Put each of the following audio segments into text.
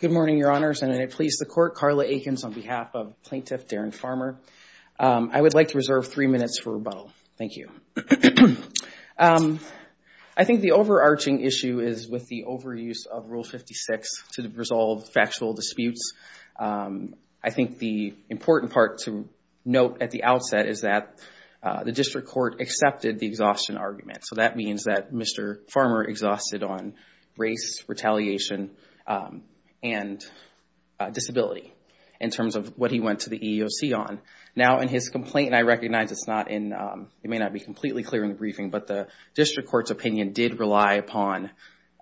Good morning, Your Honors, and may it please the Court, Carla Aikens on behalf of Plaintiff Darren Farmer. I would like to reserve three minutes for rebuttal. Thank you. I think the overarching issue is with the overuse of Rule 56 to resolve factual disputes. I think the important part to note at the outset is that the District Court accepted the exhaustion argument. So that means that Mr. Farmer exhausted on race, retaliation, and disability in terms of what he went to the EEOC on. Now in his complaint, I recognize it's not in, it may not be completely clear in the briefing, but the District Court's opinion did rely upon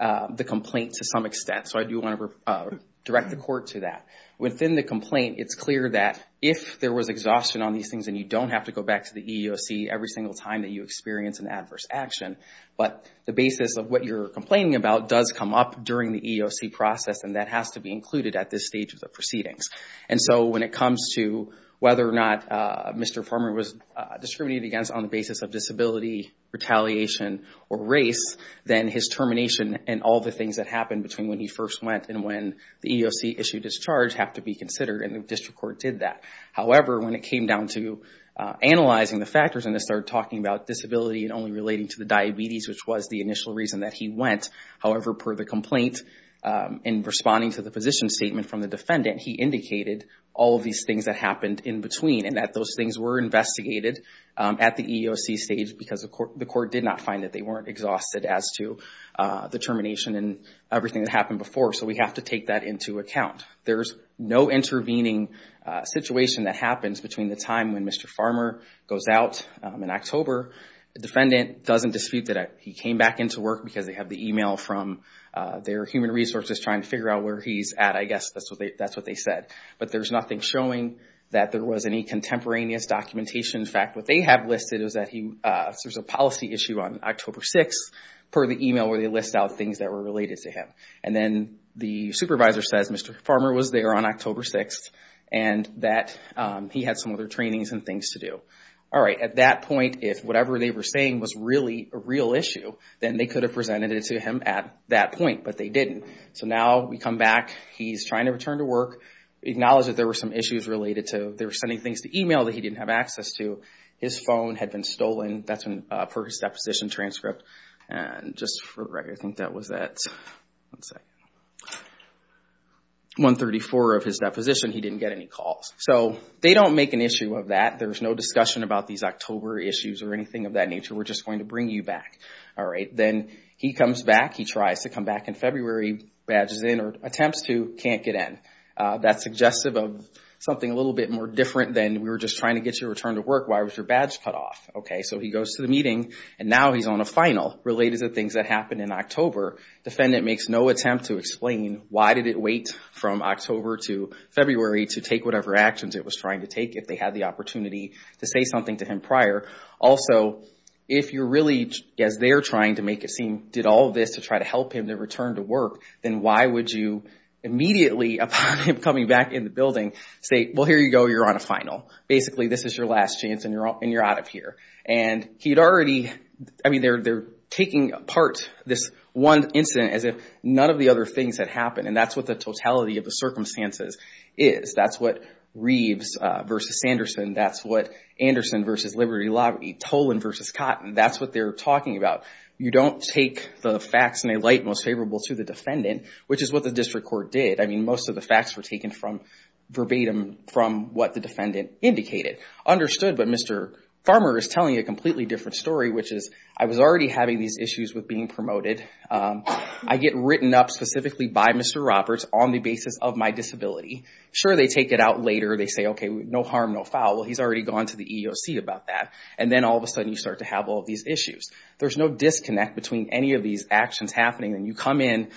the complaint to some extent. So I do want to direct the Court to that. Within the complaint, it's clear that if there was exhaustion on these things, and you don't have to go back to the EEOC every single time that you experience an adverse action, but the basis of what you're complaining about does come up during the EEOC process, and that has to be included at this stage of the proceedings. And so when it comes to whether or not Mr. Farmer was discriminated against on the basis of disability, retaliation, or race, then his termination and all the things that happened between when he first went and when the EEOC issued his charge have to be considered, and the District Court did that. However, when it came down to analyzing the factors, and they started talking about disability and only relating to the diabetes, which was the initial reason that he went. However, per the complaint, in responding to the position statement from the defendant, he indicated all of these things that happened in between, and that those things were investigated at the EEOC stage because the Court did not find that they weren't exhausted as to the termination and everything that happened before. So we have to take that into account. There's no intervening situation that happens between the time when Mr. Farmer goes out in October. The defendant doesn't dispute that he came back into work because they have the email from their human resources trying to figure out where he's at. I guess that's what they said. But there's nothing showing that there was any contemporaneous documentation. In fact, what they have listed is that there's a policy issue on October 6th per the email where they list out things that were related to him. And then the supervisor says Mr. Farmer was there on October 6th, and that he had some other trainings and things to do. All right. At that point, if whatever they were saying was really a real issue, then they could have presented it to him at that point, but they didn't. So now we come back. He's trying to return to work. Acknowledge that there were some issues related to they were sending things to email that he didn't have access to. His phone had been stolen. That's for his deposition transcript. And just for that, let's say, 134 of his deposition, he didn't get any calls. So they don't make an issue of that. There's no discussion about these October issues or anything of that nature. We're just going to bring you back. All right. Then he comes back. He tries to come back in February. Badges in or attempts to, can't get in. That's suggestive of something a little bit more different than we were just trying to get you to return to work. Why was your badge cut off? Okay. So he goes to the meeting, and now he's on a final related to things that happened in October. Defendant makes no attempt to explain why did it wait from October to February to take whatever actions it was trying to take if they had the opportunity to say something to him prior. Also, if you're really, as they're trying to make it seem, did all of this to try to help him to return to work, then why would you immediately, upon him coming back in the building, say, well, here you go. You're on a final. Basically, this is your last chance, and you're out of here. And he had already, I mean, they're taking apart this one incident as if none of the other things had happened, and that's what the totality of the circumstances is. That's what Reeves versus Sanderson, that's what Anderson versus Liberty Lobby, Tolan versus Cotton, that's what they're talking about. You don't take the facts in a light most favorable to the defendant, which is what the district court did. I mean, most of the facts were taken from verbatim from what the defendant indicated. Understood, but Mr. Farmer is telling a completely different story, which is, I was already having these issues with being promoted. I get written up specifically by Mr. Roberts on the basis of my disability. Sure, they take it out later. They say, okay, no harm, no foul. Well, he's already gone to the EEOC about that. And then all of a sudden, you start to have all of these issues. There's no disconnect between any of these actions happening, and you come in,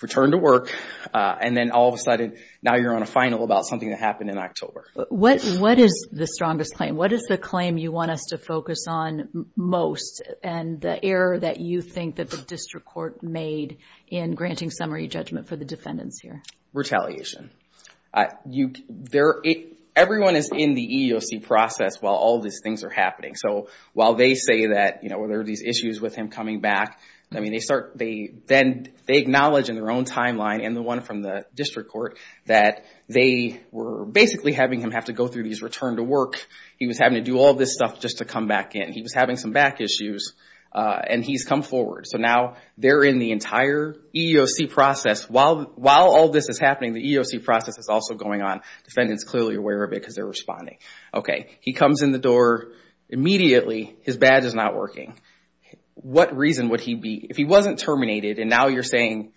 return to work, and then all of a sudden, now you're on a final about something that happened in October. What is the strongest claim? What is the claim you want us to focus on most, and the error that you think that the district court made in granting summary judgment for the defendants here? Retaliation. Everyone is in the EEOC process while all these things are happening. So while they say that there are these issues with him coming back, then they acknowledge in their own timeline and the one from the district court that they were basically having him have to go through these return to work. He was having to do all this stuff just to come back in. He was having some back issues, and he's come forward. So now they're in the entire EEOC process. While all this is happening, the EEOC process is also going on. Defendants are clearly aware of it because they're responding. He comes in the door immediately. His badge is not working. What reason would he be? If he wasn't terminated, and now you're saying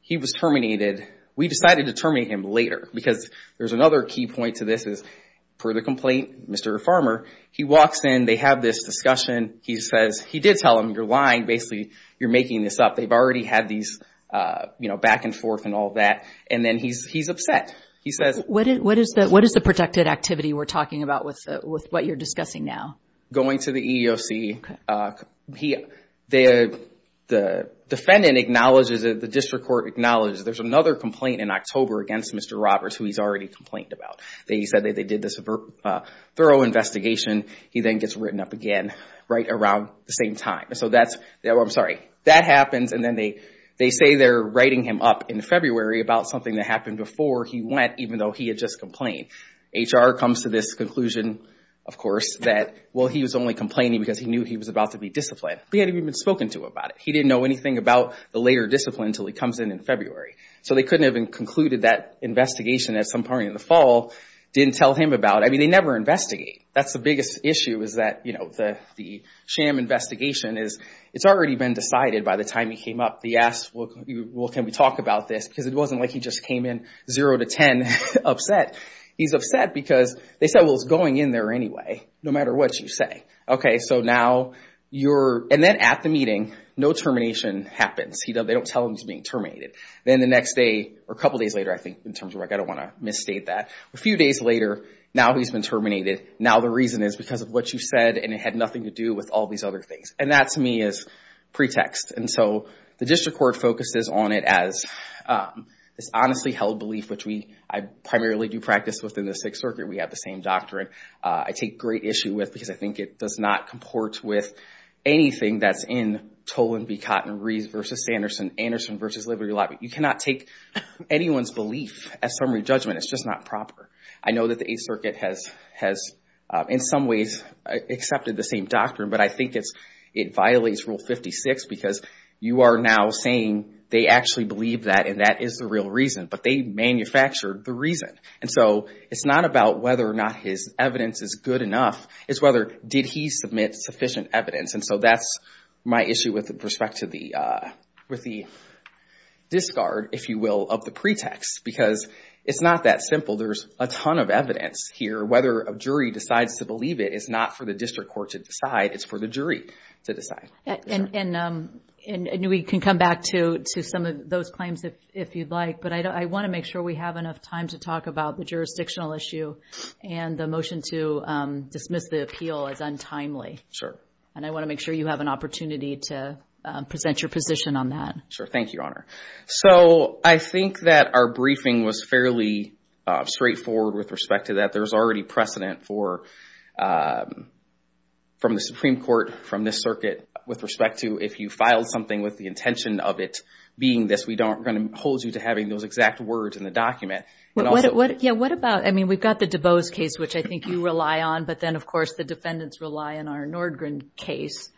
he was terminated, we decided to terminate him later because there's another key point to this is, per the complaint, Mr. Farmer, he walks in. They have this discussion. He says, he did tell them, you're lying. Basically, you're making this up. They've already had these back and forth and all that. Then he's upset. What is the protected activity we're talking about with what you're discussing now? Going to the EEOC, the defendant acknowledges it. The district court acknowledges it. There's another complaint in October against Mr. Roberts who he's already complained about. They said that they did this thorough investigation. He then gets written up again right around the same time. I'm sorry. That happens, and then they say they're writing him up in February about something that happened before he went even though he had just complained. HR comes to this conclusion, of course, that he was only complaining because he knew he was about to be disciplined. He hadn't even spoken to him about it. He didn't know anything about the later discipline until he comes in in February. They couldn't have concluded that investigation at some point in the fall, didn't tell him about it. They never investigate. That's the biggest issue is that the sham investigation is, it's already been decided by the time he came up. They asked, well, can we talk about this? It wasn't like he just came in zero to 10 upset. He's upset because they said, well, it's going in there anyway, no matter what you say. Then at the meeting, no termination happens. They don't tell him he's being terminated. Then the next day, or a couple days later, I think, in terms of, I don't want to misstate that. A few days later, now he's been terminated. Now the reason is because of what you said, and it had nothing to do with all these other things. That, to me, is pretext. The district court focuses on it as this honestly held belief, which I primarily do practice within the Sixth Circuit. We have the same doctrine. I take great issue with, because I think it does not comport with anything that's in Toland v. Cotton and Reed v. Sanderson, Anderson v. Liberty Lobby. You cannot take anyone's belief as summary judgment. It's just not proper. I know that the Eighth Circuit has, in some ways, accepted the same doctrine, but I think it violates Rule 56 because you are now saying they actually believe that and that is the real reason, but they manufactured the reason. It's not about whether or not his evidence is good enough. It's whether, did he submit sufficient evidence? That's my issue with respect to the discard, if you will, of the pretext, because it's not that simple. There's a ton of evidence here. Whether a jury decides to believe it is not for the district court to decide. It's for the jury to decide. We can come back to some of those claims if you'd like, but I want to make sure we have enough time to talk about the jurisdictional issue and the motion to dismiss the appeal as untimely. I want to make sure you have an opportunity to present your position on that. Thank you, Honor. I think that our briefing was fairly straightforward with respect to that. There's already precedent from the Supreme Court, from this circuit, with respect to if you filed something with the intention of it being this, we don't hold you to having those exact words in the document. What about, we've got the DuBose case, which I think you rely on, but then, of course, the defendants rely on our Nordgren case.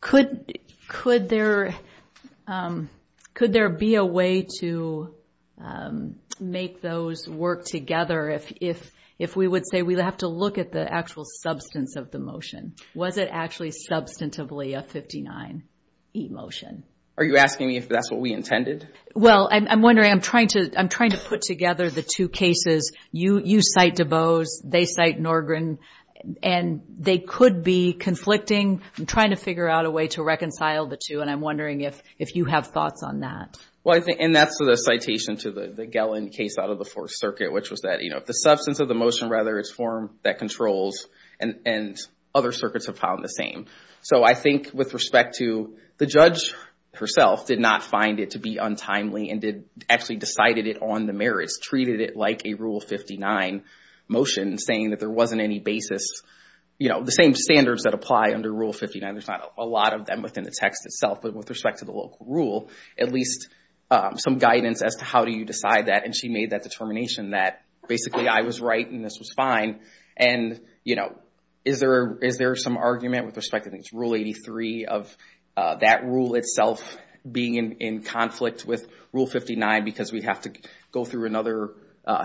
Could there be a way to make those work together if we would say we'd have to look at the actual substance of the motion? Was it actually substantively a 59E motion? Are you asking me if that's what we intended? Well, I'm wondering, I'm trying to put together the two cases. You cite DuBose, they cite Nordgren, and they could be conflicting. I'm trying to figure out a way to reconcile the two, and I'm wondering if you have thoughts on that. And that's the citation to the Gellin case out of the Fourth Circuit, which was that the substance of the motion, rather, it's form that controls, and other circuits have found the same. So I think with respect to the judge herself did not find it to be untimely and did actually decided it on the merits, treated it like a Rule 59 motion, saying that there wasn't any basis. The same standards that apply under Rule 59, there's not a lot of them within the text itself. But with respect to the local rule, at least some guidance as to how do you decide that, and she made that determination that basically I was right and this was fine. And is there some argument with respect to Rule 83 of that rule itself being in conflict with Rule 59 because we have to go through another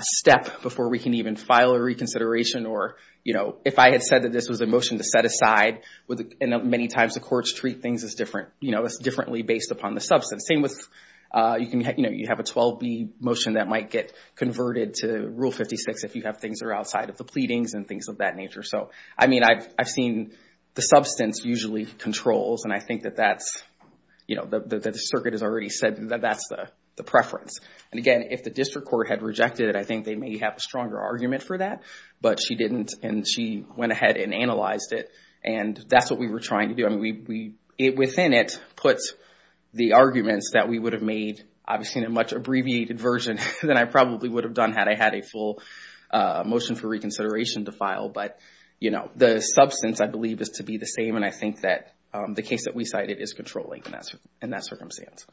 step before we can even file a reconsideration? Or if I had said that this was a motion to set aside, many times the courts treat things differently based upon the substance. Same with, you have a 12B motion that might get converted to Rule 56 if you have things that are outside of the pleadings and things of that nature. So I mean, I've seen the substance usually controls and I think that that's, the circuit has already said that that's the preference. And again, if the district court had rejected it, I think they may have a stronger argument for that, but she didn't and she went ahead and analyzed it and that's what we were trying to do. Within it puts the arguments that we would have made, obviously in a much abbreviated version than I probably would have done had I had a full motion for reconsideration to file. But the substance I believe is to be the same and I think that the case that we cited is controlling in that circumstance.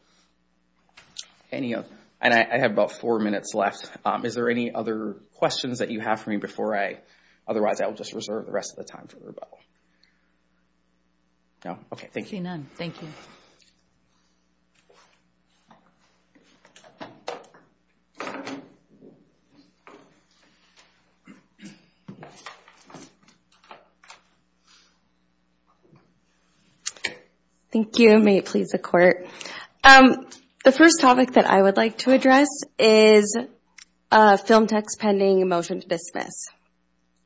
And I have about four minutes left. Is there any other questions that you have for me before I, otherwise I will just reserve the rest of the time for rebuttal? No? Okay. Thank you. I see none. Thank you. Thank you. May it please the court. The first topic that I would like to address is film text pending motion to dismiss,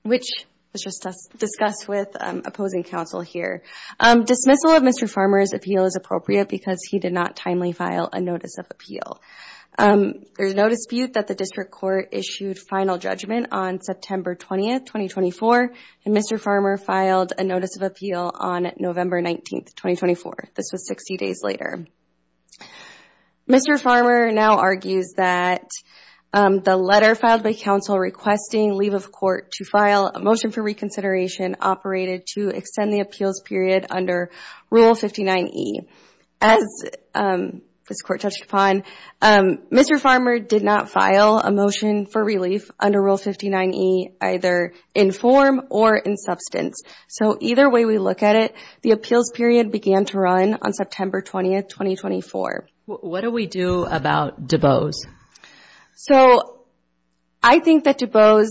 which was just discussed with opposing counsel here. Dismissal of Mr. Farmer's appeal is appropriate because he did not timely file a notice of appeal. There's no dispute that the district court issued final judgment on September 20th, 2024 and Mr. Farmer filed a notice of appeal on November 19th, 2024. This was 60 days later. Mr. Farmer now argues that the letter filed by counsel requesting leave of court to file a motion for reconsideration operated to extend the appeals period under Rule 59E. As this court touched upon, Mr. Farmer did not file a motion for relief under Rule 59E either in form or in substance. So either way we look at it, the appeals period began to run on September 20th, 2024. What do we do about DuBose? So, I think that DuBose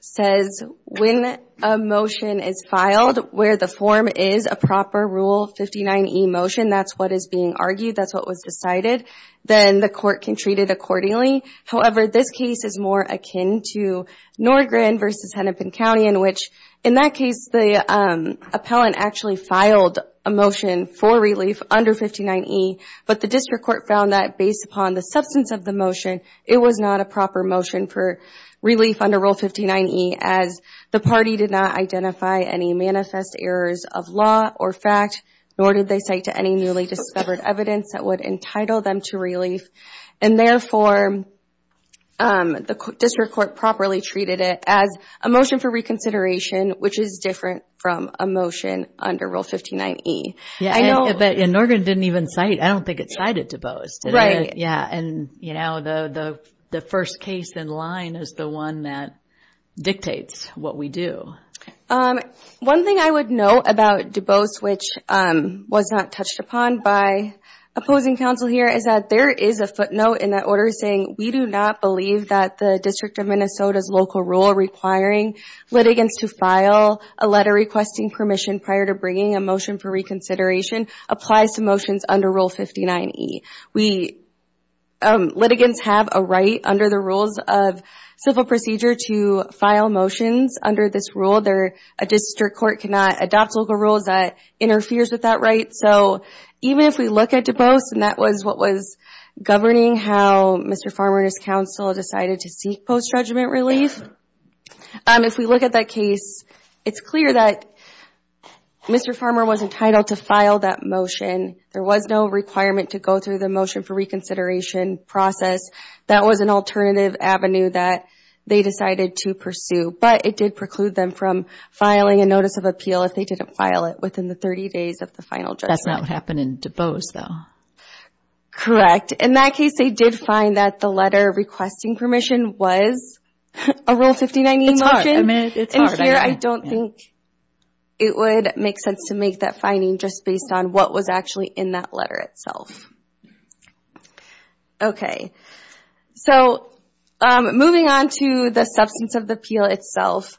says when a motion is filed where the form is a proper Rule 59E motion, that's what is being argued, that's what was decided, then the court can treat it accordingly. However, this case is more akin to Norgren versus Hennepin County in that case the appellant actually filed a motion for relief under 59E, but the district court found that based upon the substance of the motion, it was not a proper motion for relief under Rule 59E as the party did not identify any manifest errors of law or fact, nor did they cite to any newly discovered evidence that would entitle them to relief. And therefore, the district court properly treated it as a motion for reconsideration, which is different from a motion under Rule 59E. Yeah, but Norgren didn't even cite, I don't think it cited DuBose. Right. Yeah, and you know, the first case in line is the one that dictates what we do. One thing I would note about DuBose, which was not touched upon by opposing counsel here, is that there is a footnote in that order saying, we do not believe that the District of Minnesota's local rule requiring litigants to file a letter requesting permission prior to bringing a motion for reconsideration applies to motions under Rule 59E. Litigants have a right under the rules of civil procedure to file motions under this rule. A district court cannot adopt local rules that interferes with that right. So even if we look at DuBose, and that was what was governing how Mr. Farmer and his counsel decided to seek post-judgment relief, if we look at that case, it's clear that Mr. Farmer was entitled to file that motion. There was no requirement to go through the motion for reconsideration process. That was an alternative avenue that they decided to pursue. But it did preclude them from filing a notice of appeal if they didn't file it within the 30 days of the final judgment. That's not what happened in DuBose, though. Correct. In that case, they did find that the letter requesting permission was a Rule 59E motion. It's hard. I mean, it's hard. And here, I don't think it would make sense to make that finding just based on what was actually in that letter itself. Okay. So moving on to the substance of the appeal itself,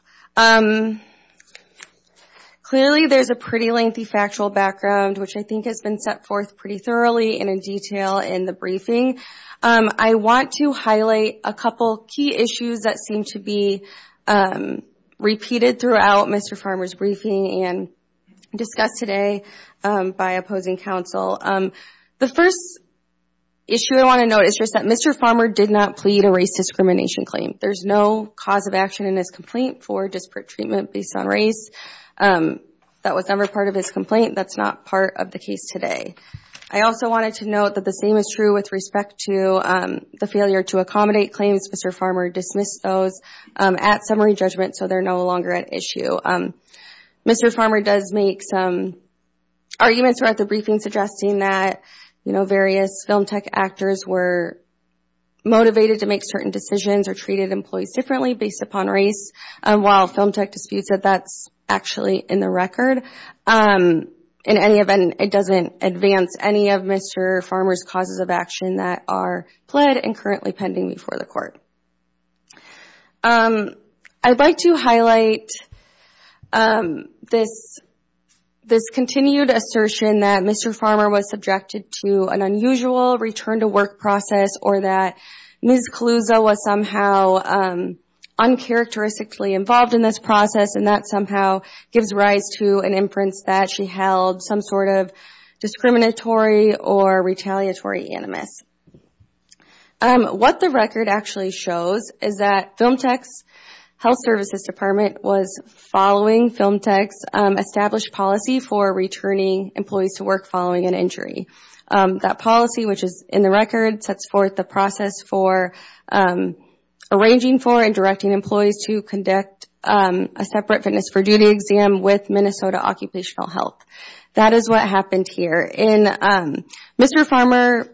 clearly there's a pretty lengthy factual background, which I think has been set forth pretty thoroughly and in detail in the briefing. I want to highlight a couple key issues that seem to be repeated throughout Mr. Farmer's briefing and discussed today by opposing counsel. The first issue I want to note is just that Mr. Farmer did not plead a race discrimination claim. There's no cause of action in his complaint for disparate treatment based on race that was never part of his complaint. That's not part of the case today. I also wanted to note that the same is true with respect to the failure to accommodate claims. Mr. Farmer dismissed those at summary judgment, so they're no longer an issue. Mr. Farmer does make some arguments throughout the briefing suggesting that various film tech actors were motivated to make certain decisions or treated employees differently based upon race, while film tech disputes that that's actually in the record. In any event, it doesn't advance any of Mr. Farmer's causes of action that are pled and currently pending before the court. I'd like to highlight this continued assertion that Mr. Farmer was subjected to an unusual return to work process or that Ms. Caluso was somehow uncharacteristically involved in this process and that somehow gives rise to an inference that she held some sort of discriminatory or retaliatory animus. What the record actually shows is that film tech's health services department was following film tech's established policy for returning employees to work following an injury. That policy, which is in the record, sets forth the process for arranging for and directing employees to conduct a separate fitness for duty exam with Minnesota Occupational Health. That is what happened here. Mr. Farmer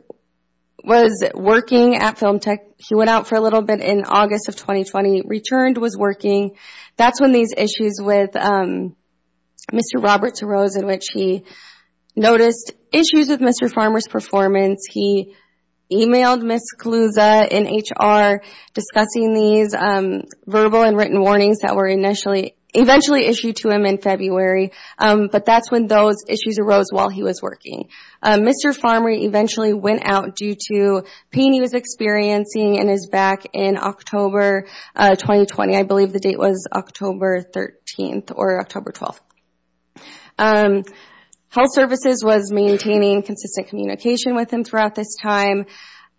was working at film tech. He went out for a little bit in August of 2020, returned, was working. That's when these issues with Mr. Roberts arose in which he noticed issues with Mr. Farmer's performance. He emailed Ms. Caluso in HR discussing these verbal and written warnings that were eventually issued to him in February, but that's when those issues arose while he was working. Mr. Farmer eventually went out due to pain he was experiencing in his back in October 2020. I believe the date was October 13th or October 12th. Health services was maintaining consistent communication with him throughout this time.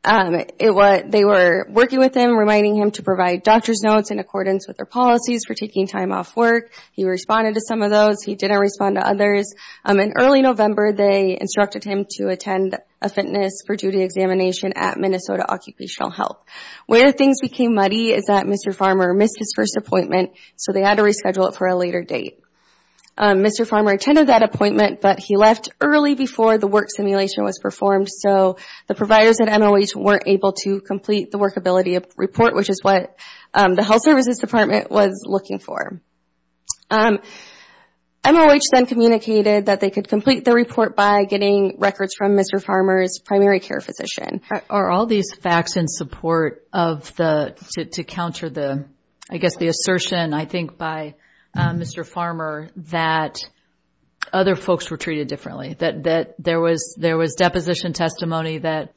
They were working with him, reminding him to provide doctor's notes in accordance with their policies for taking time off work. He responded to some of those. He didn't respond to others. In early November, they instructed him to attend a fitness for duty examination at Minnesota Occupational Health. Where things became muddy is that Mr. Farmer missed his first appointment, so they had to reschedule it for a later date. Mr. Farmer attended that appointment, but he left early before the work simulation was performed, so the providers at MOH weren't able to complete the workability report, which is what the health services department was looking for. MOH then communicated that they could complete the report by getting records from Mr. Farmer's primary care physician. Are all these facts in support of the, to counter the, I guess the assertion, I think, by Mr. Farmer that other folks were treated differently, that there was deposition testimony that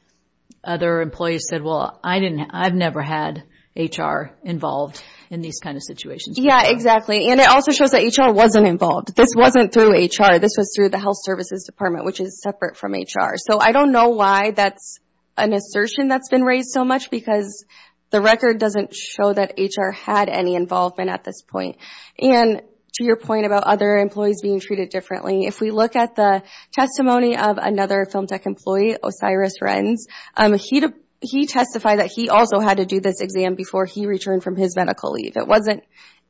other employees said, well, I didn't, I've never had HR involved in these kind of situations before? Yeah, exactly. And it also shows that HR wasn't involved. This wasn't through HR. This was through the health services department, which is separate from HR. So I don't know why that's an assertion that's been raised so much, because the record doesn't show that HR had any involvement at this point. And to your point about other employees being treated differently, if we look at the testimony of another FilmTech employee, Osiris Renz, he testified that he also had to do this exam before he returned from his medical leave. It wasn't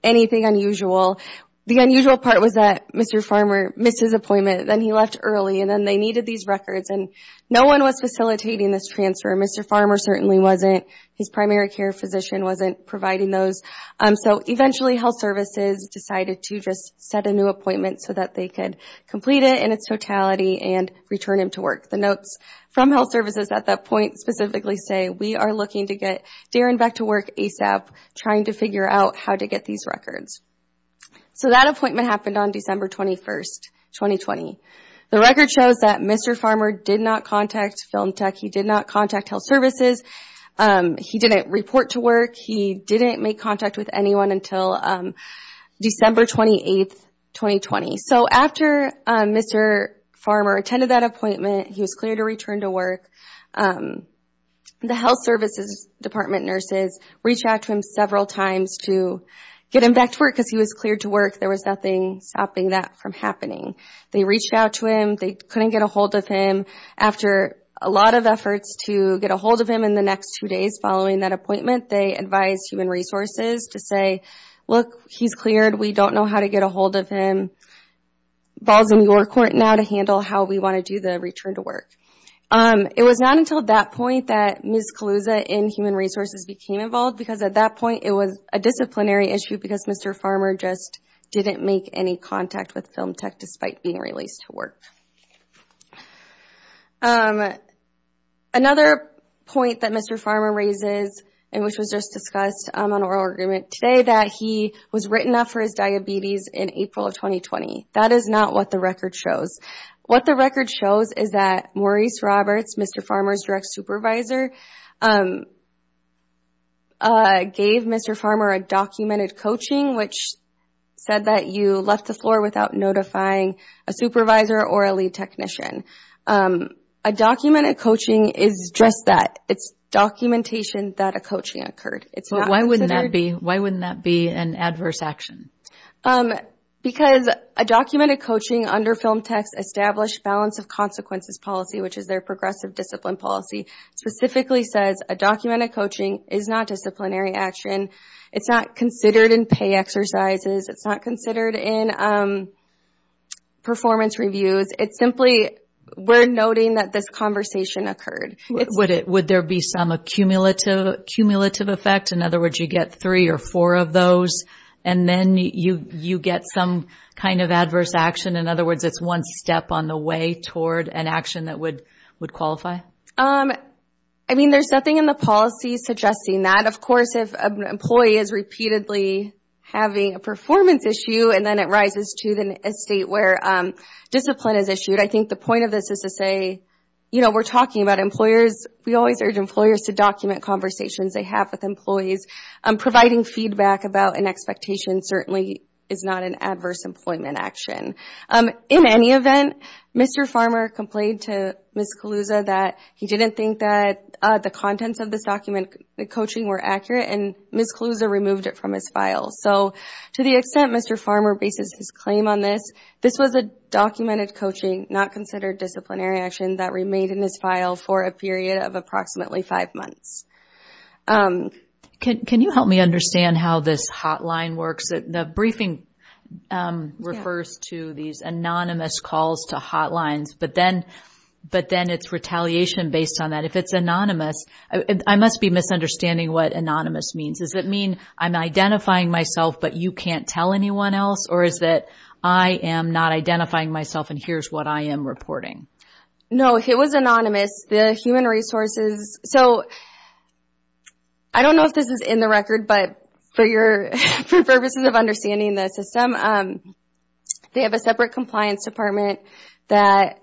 anything unusual. The unusual part was that Mr. Farmer missed his appointment, then he left early, and then they needed these records, and no one was facilitating this transfer. Mr. Farmer certainly wasn't. His potentially health services decided to just set a new appointment so that they could complete it in its totality and return him to work. The notes from health services at that point specifically say, we are looking to get Darren back to work ASAP, trying to figure out how to get these records. So that appointment happened on December 21st, 2020. The record shows that Mr. Farmer did not contact FilmTech. He did not contact health services. He didn't report to work. He didn't make contact with anyone until December 28th, 2020. So after Mr. Farmer attended that appointment, he was cleared to return to work, the health services department nurses reached out to him several times to get him back to work because he was cleared to work. There was nothing stopping that from happening. They reached out to him. They couldn't get a hold of him. After a lot of efforts to get a hold of him in the next two days following that appointment, they advised Human Resources to say, look, he's cleared. We don't know how to get a hold of him. The ball is in your court now to handle how we want to do the return to work. It was not until that point that Ms. Caluza in Human Resources became involved because at that point it was a disciplinary issue because Mr. Farmer just didn't make any contact with FilmTech despite being released to work. Another point that Mr. Farmer raises and which was just discussed on oral agreement today that he was written up for his diabetes in April of 2020. That is not what the record shows. What the record shows is that Maurice Roberts, Mr. Farmer's direct supervisor, gave Mr. Farmer a documented coaching which said that you left the floor without notifying a supervisor or a lead technician. A documented coaching is just that. It's documentation that a coaching occurred. Why wouldn't that be an adverse action? Because a documented coaching under FilmTech's established balance of consequences policy which is their progressive discipline policy specifically says a documented coaching is not disciplinary action. It's not considered in pay exercises. It's not considered in performance reviews. It's simply we're noting that this conversation occurred. Would there be some cumulative effect? In other words, you get three or four of those and then you get some kind of adverse action. In other words, it's one step on the way toward an action that would qualify? There's nothing in the policy suggesting that. Of course, if an employee is repeatedly having a performance issue and then it rises to a state where discipline is issued, I think the point of this is to say we're talking about employers. We always urge employers to document conversations they have with employees. Providing feedback about an expectation certainly is not an adverse employment action. In any event, Mr. Farmer complained to Ms. Caluza that he didn't think that the contents of this document, the coaching were accurate and Ms. Caluza removed it from his file. To the extent Mr. Farmer bases his claim on this, this was a documented coaching not considered disciplinary action that remained in his file for a period of approximately five months. Can you help me understand how this hotline works? The briefing refers to these anonymous calls to hotlines, but then it's retaliation based on that. If it's anonymous, I must be misunderstanding what anonymous means. Does it mean I'm identifying myself but you can't tell anyone else or is it I am not identifying myself and here's what I am reporting? No, it was anonymous. The human resources, so I don't know if this is in the record, but for purposes of understanding the system, they have a separate compliance department that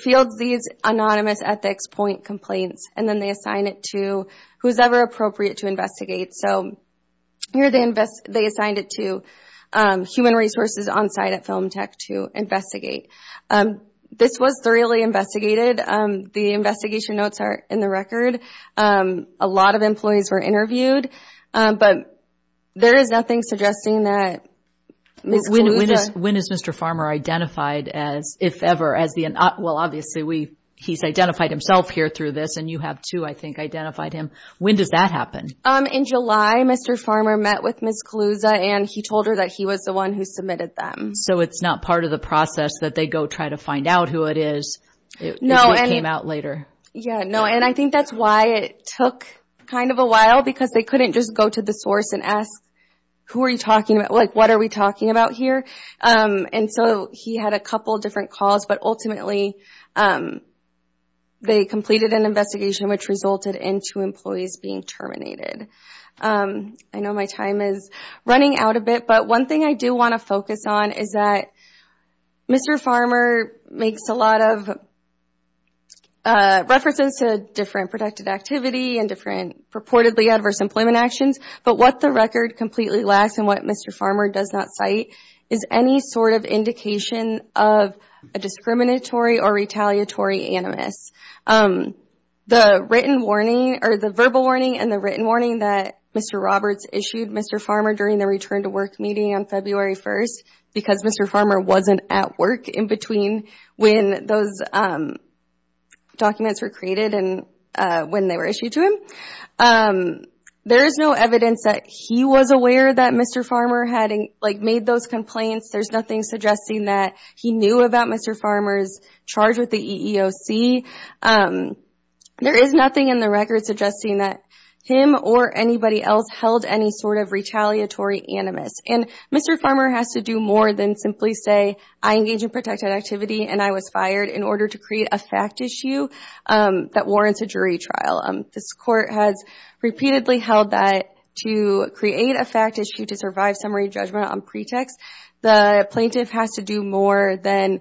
fields these anonymous ethics point complaints and then they assign it to whosoever appropriate to investigate. Here they assigned it to human resources on site at Film Tech to investigate. This was thoroughly investigated. The investigation notes are in the record. A lot of employees were interviewed, but there is nothing suggesting that Ms. Caluza... When is Mr. Farmer identified as, if ever, as the... Well, obviously he's identified himself here through this and you have too, I think, identified him. When does that happen? In July, Mr. Farmer met with Ms. Caluza and he told her that he was the one who submitted them. So it's not part of the process that they go try to find out who it is. It came out later. Yeah, no, and I think that's why it took kind of a while because they couldn't just go to the source and ask, who are you talking about? Like, what are we talking about here? And so he had a couple of different calls, but ultimately they completed an investigation which resulted into employees being terminated. I know my time is running out a bit, but one thing I do want to focus on is that Mr. Farmer makes a lot of references to different protected activity and different purportedly adverse employment actions, but what the record completely lacks and what Mr. Farmer does not cite is any sort of indication of a discriminatory or retaliatory animus. The verbal warning and the written warning that Mr. Roberts issued Mr. Farmer during the return to work meeting on February 1st because Mr. Farmer wasn't at work in between when those documents were created and when they were issued to him. There is no evidence that he was aware that Mr. Farmer had made those complaints. There's nothing suggesting that he knew about Mr. Farmer's charge with the EEOC. There is nothing in the record suggesting that him or anybody else held any sort of retaliatory animus and Mr. Farmer has to do more than simply say, I engage in protected activity and I was fired in order to create a fact issue that warrants a jury trial. This court has repeatedly held that to create a fact issue to survive summary judgment on pretext, the plaintiff has to do more than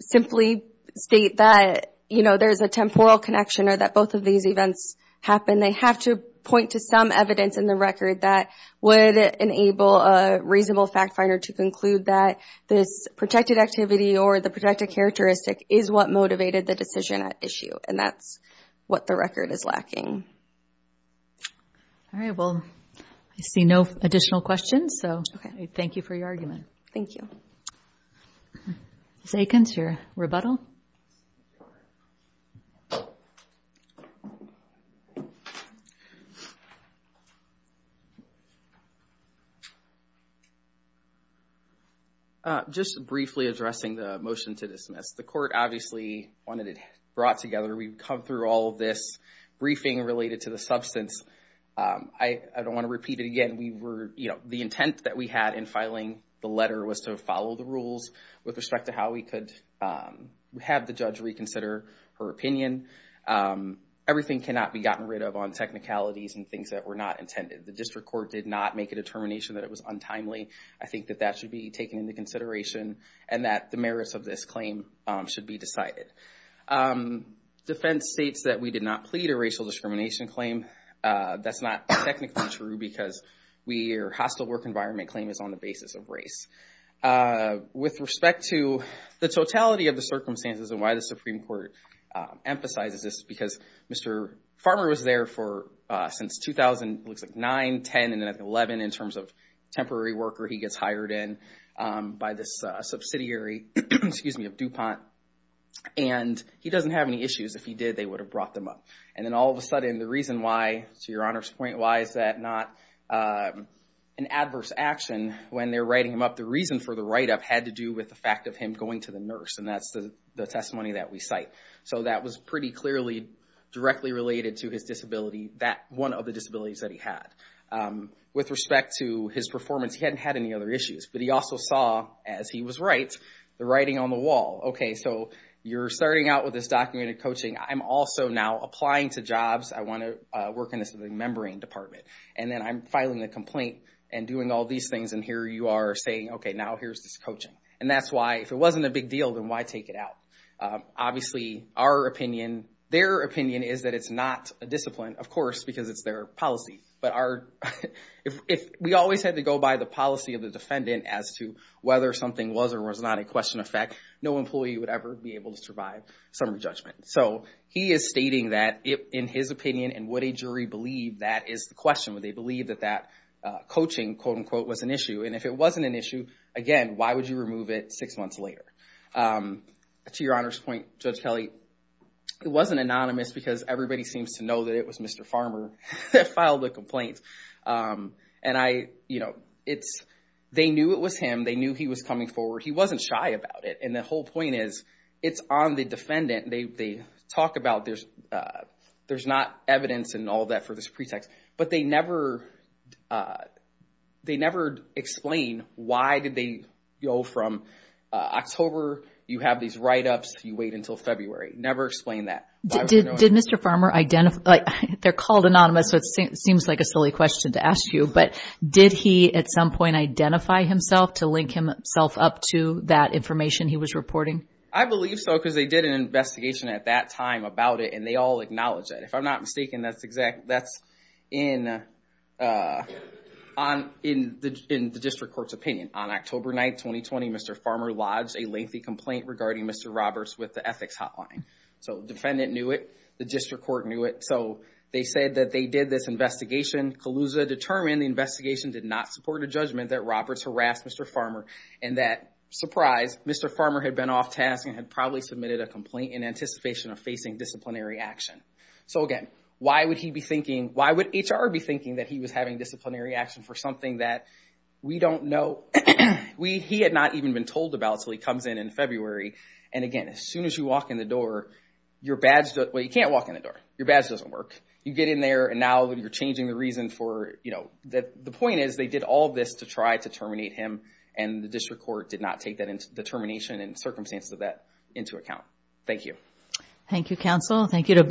simply state that there's a temporal connection or that both of these events happen. They have to point to some evidence in the record that would enable a reasonable fact finder to conclude that this protected activity or the protected characteristic is what motivated the decision at issue and that's what the record is lacking. I see no additional questions so thank you for your argument. Thank you. Zakins, your rebuttal. Just briefly addressing the motion to dismiss. The court obviously wanted it brought together. We've come through all this briefing related to the substance. I don't want to repeat it again. The intent that we had in filing the letter was to follow the rules with respect to how we could have the judge reconsider her opinion. Everything cannot be gotten rid of on technicalities and things that were not intended. The district court did not make a determination that it was untimely. I think that that should be taken into consideration and that the merits of this claim should be decided. Defense states that we did not plead a racial discrimination claim. That's not technically true because we're hostile work environment claim is on the basis of race. With respect to the totality of the circumstances and why the Supreme Court emphasizes this because Mr. Farmer was there for since 2009, 10 and 11 in terms of temporary worker he gets hired in by this subsidiary of DuPont and he doesn't have any issues. If he did, would have brought them up. Then all of a sudden the reason why, to your Honor's point, why is that not an adverse action when they're writing him up. The reason for the write-up had to do with the fact of him going to the nurse. That's the testimony that we cite. That was pretty clearly directly related to his disability. That one of the disabilities that he had. With respect to his performance, he hadn't had any other issues, but he also saw as he was right, the writing on the wall. You're starting out with this documented coaching. I'm also now applying to jobs. I want to work in this membrane department. Then I'm filing a complaint and doing all these things and here you are saying, okay, now here's this coaching. That's why if it wasn't a big deal, then why take it out? Obviously, their opinion is that it's not a discipline, of course, because it's their policy. We always had to go by the policy of the defendant as to whether something was or was not a question of fact. No employee would ever be able to survive summary judgment. He is stating that in his opinion and would a jury believe that is the question. Would they believe that that coaching, quote unquote, was an issue? If it wasn't an issue, again, why would you remove it six months later? To your Honor's point, Judge Kelly, it wasn't anonymous because everybody seems to know that it was Mr. Farmer filed a complaint. They knew it was him. They knew he was coming forward. He wasn't shy about it. The whole point is it's on the defendant. They talk about there's not evidence and all that for this pretext, but they never explain why did they go from October, you have these write-ups, you wait until February. Never explain that. Did Mr. Farmer identify? They're called anonymous, so it seems like a silly question to ask you, but did he at some point identify himself to link himself up to that information he was reporting? I believe so because they did an investigation at that time about it and they all acknowledge that. If I'm not mistaken, that's in the district court's opinion. On October 9th, 2020, Mr. Farmer lodged a lengthy complaint regarding Mr. Roberts with the ethics hotline. Defendant knew it. The district court knew it. They said that they did this investigation. CALUSA determined the investigation did not support a judgment that Roberts harassed Mr. Farmer and that, surprise, Mr. Farmer had been off task and had probably submitted a complaint in anticipation of facing disciplinary action. Again, why would HR be thinking that he was having disciplinary action for something that we don't know? He had not even been told about in February. Again, as soon as you walk in the door, you can't walk in the door. Your badge doesn't work. You get in there and now you're changing the reason for... The point is they did all this to try to terminate him and the district court did not take that determination and circumstances of that into account. Thank you. Thank you, counsel. Thank you to both.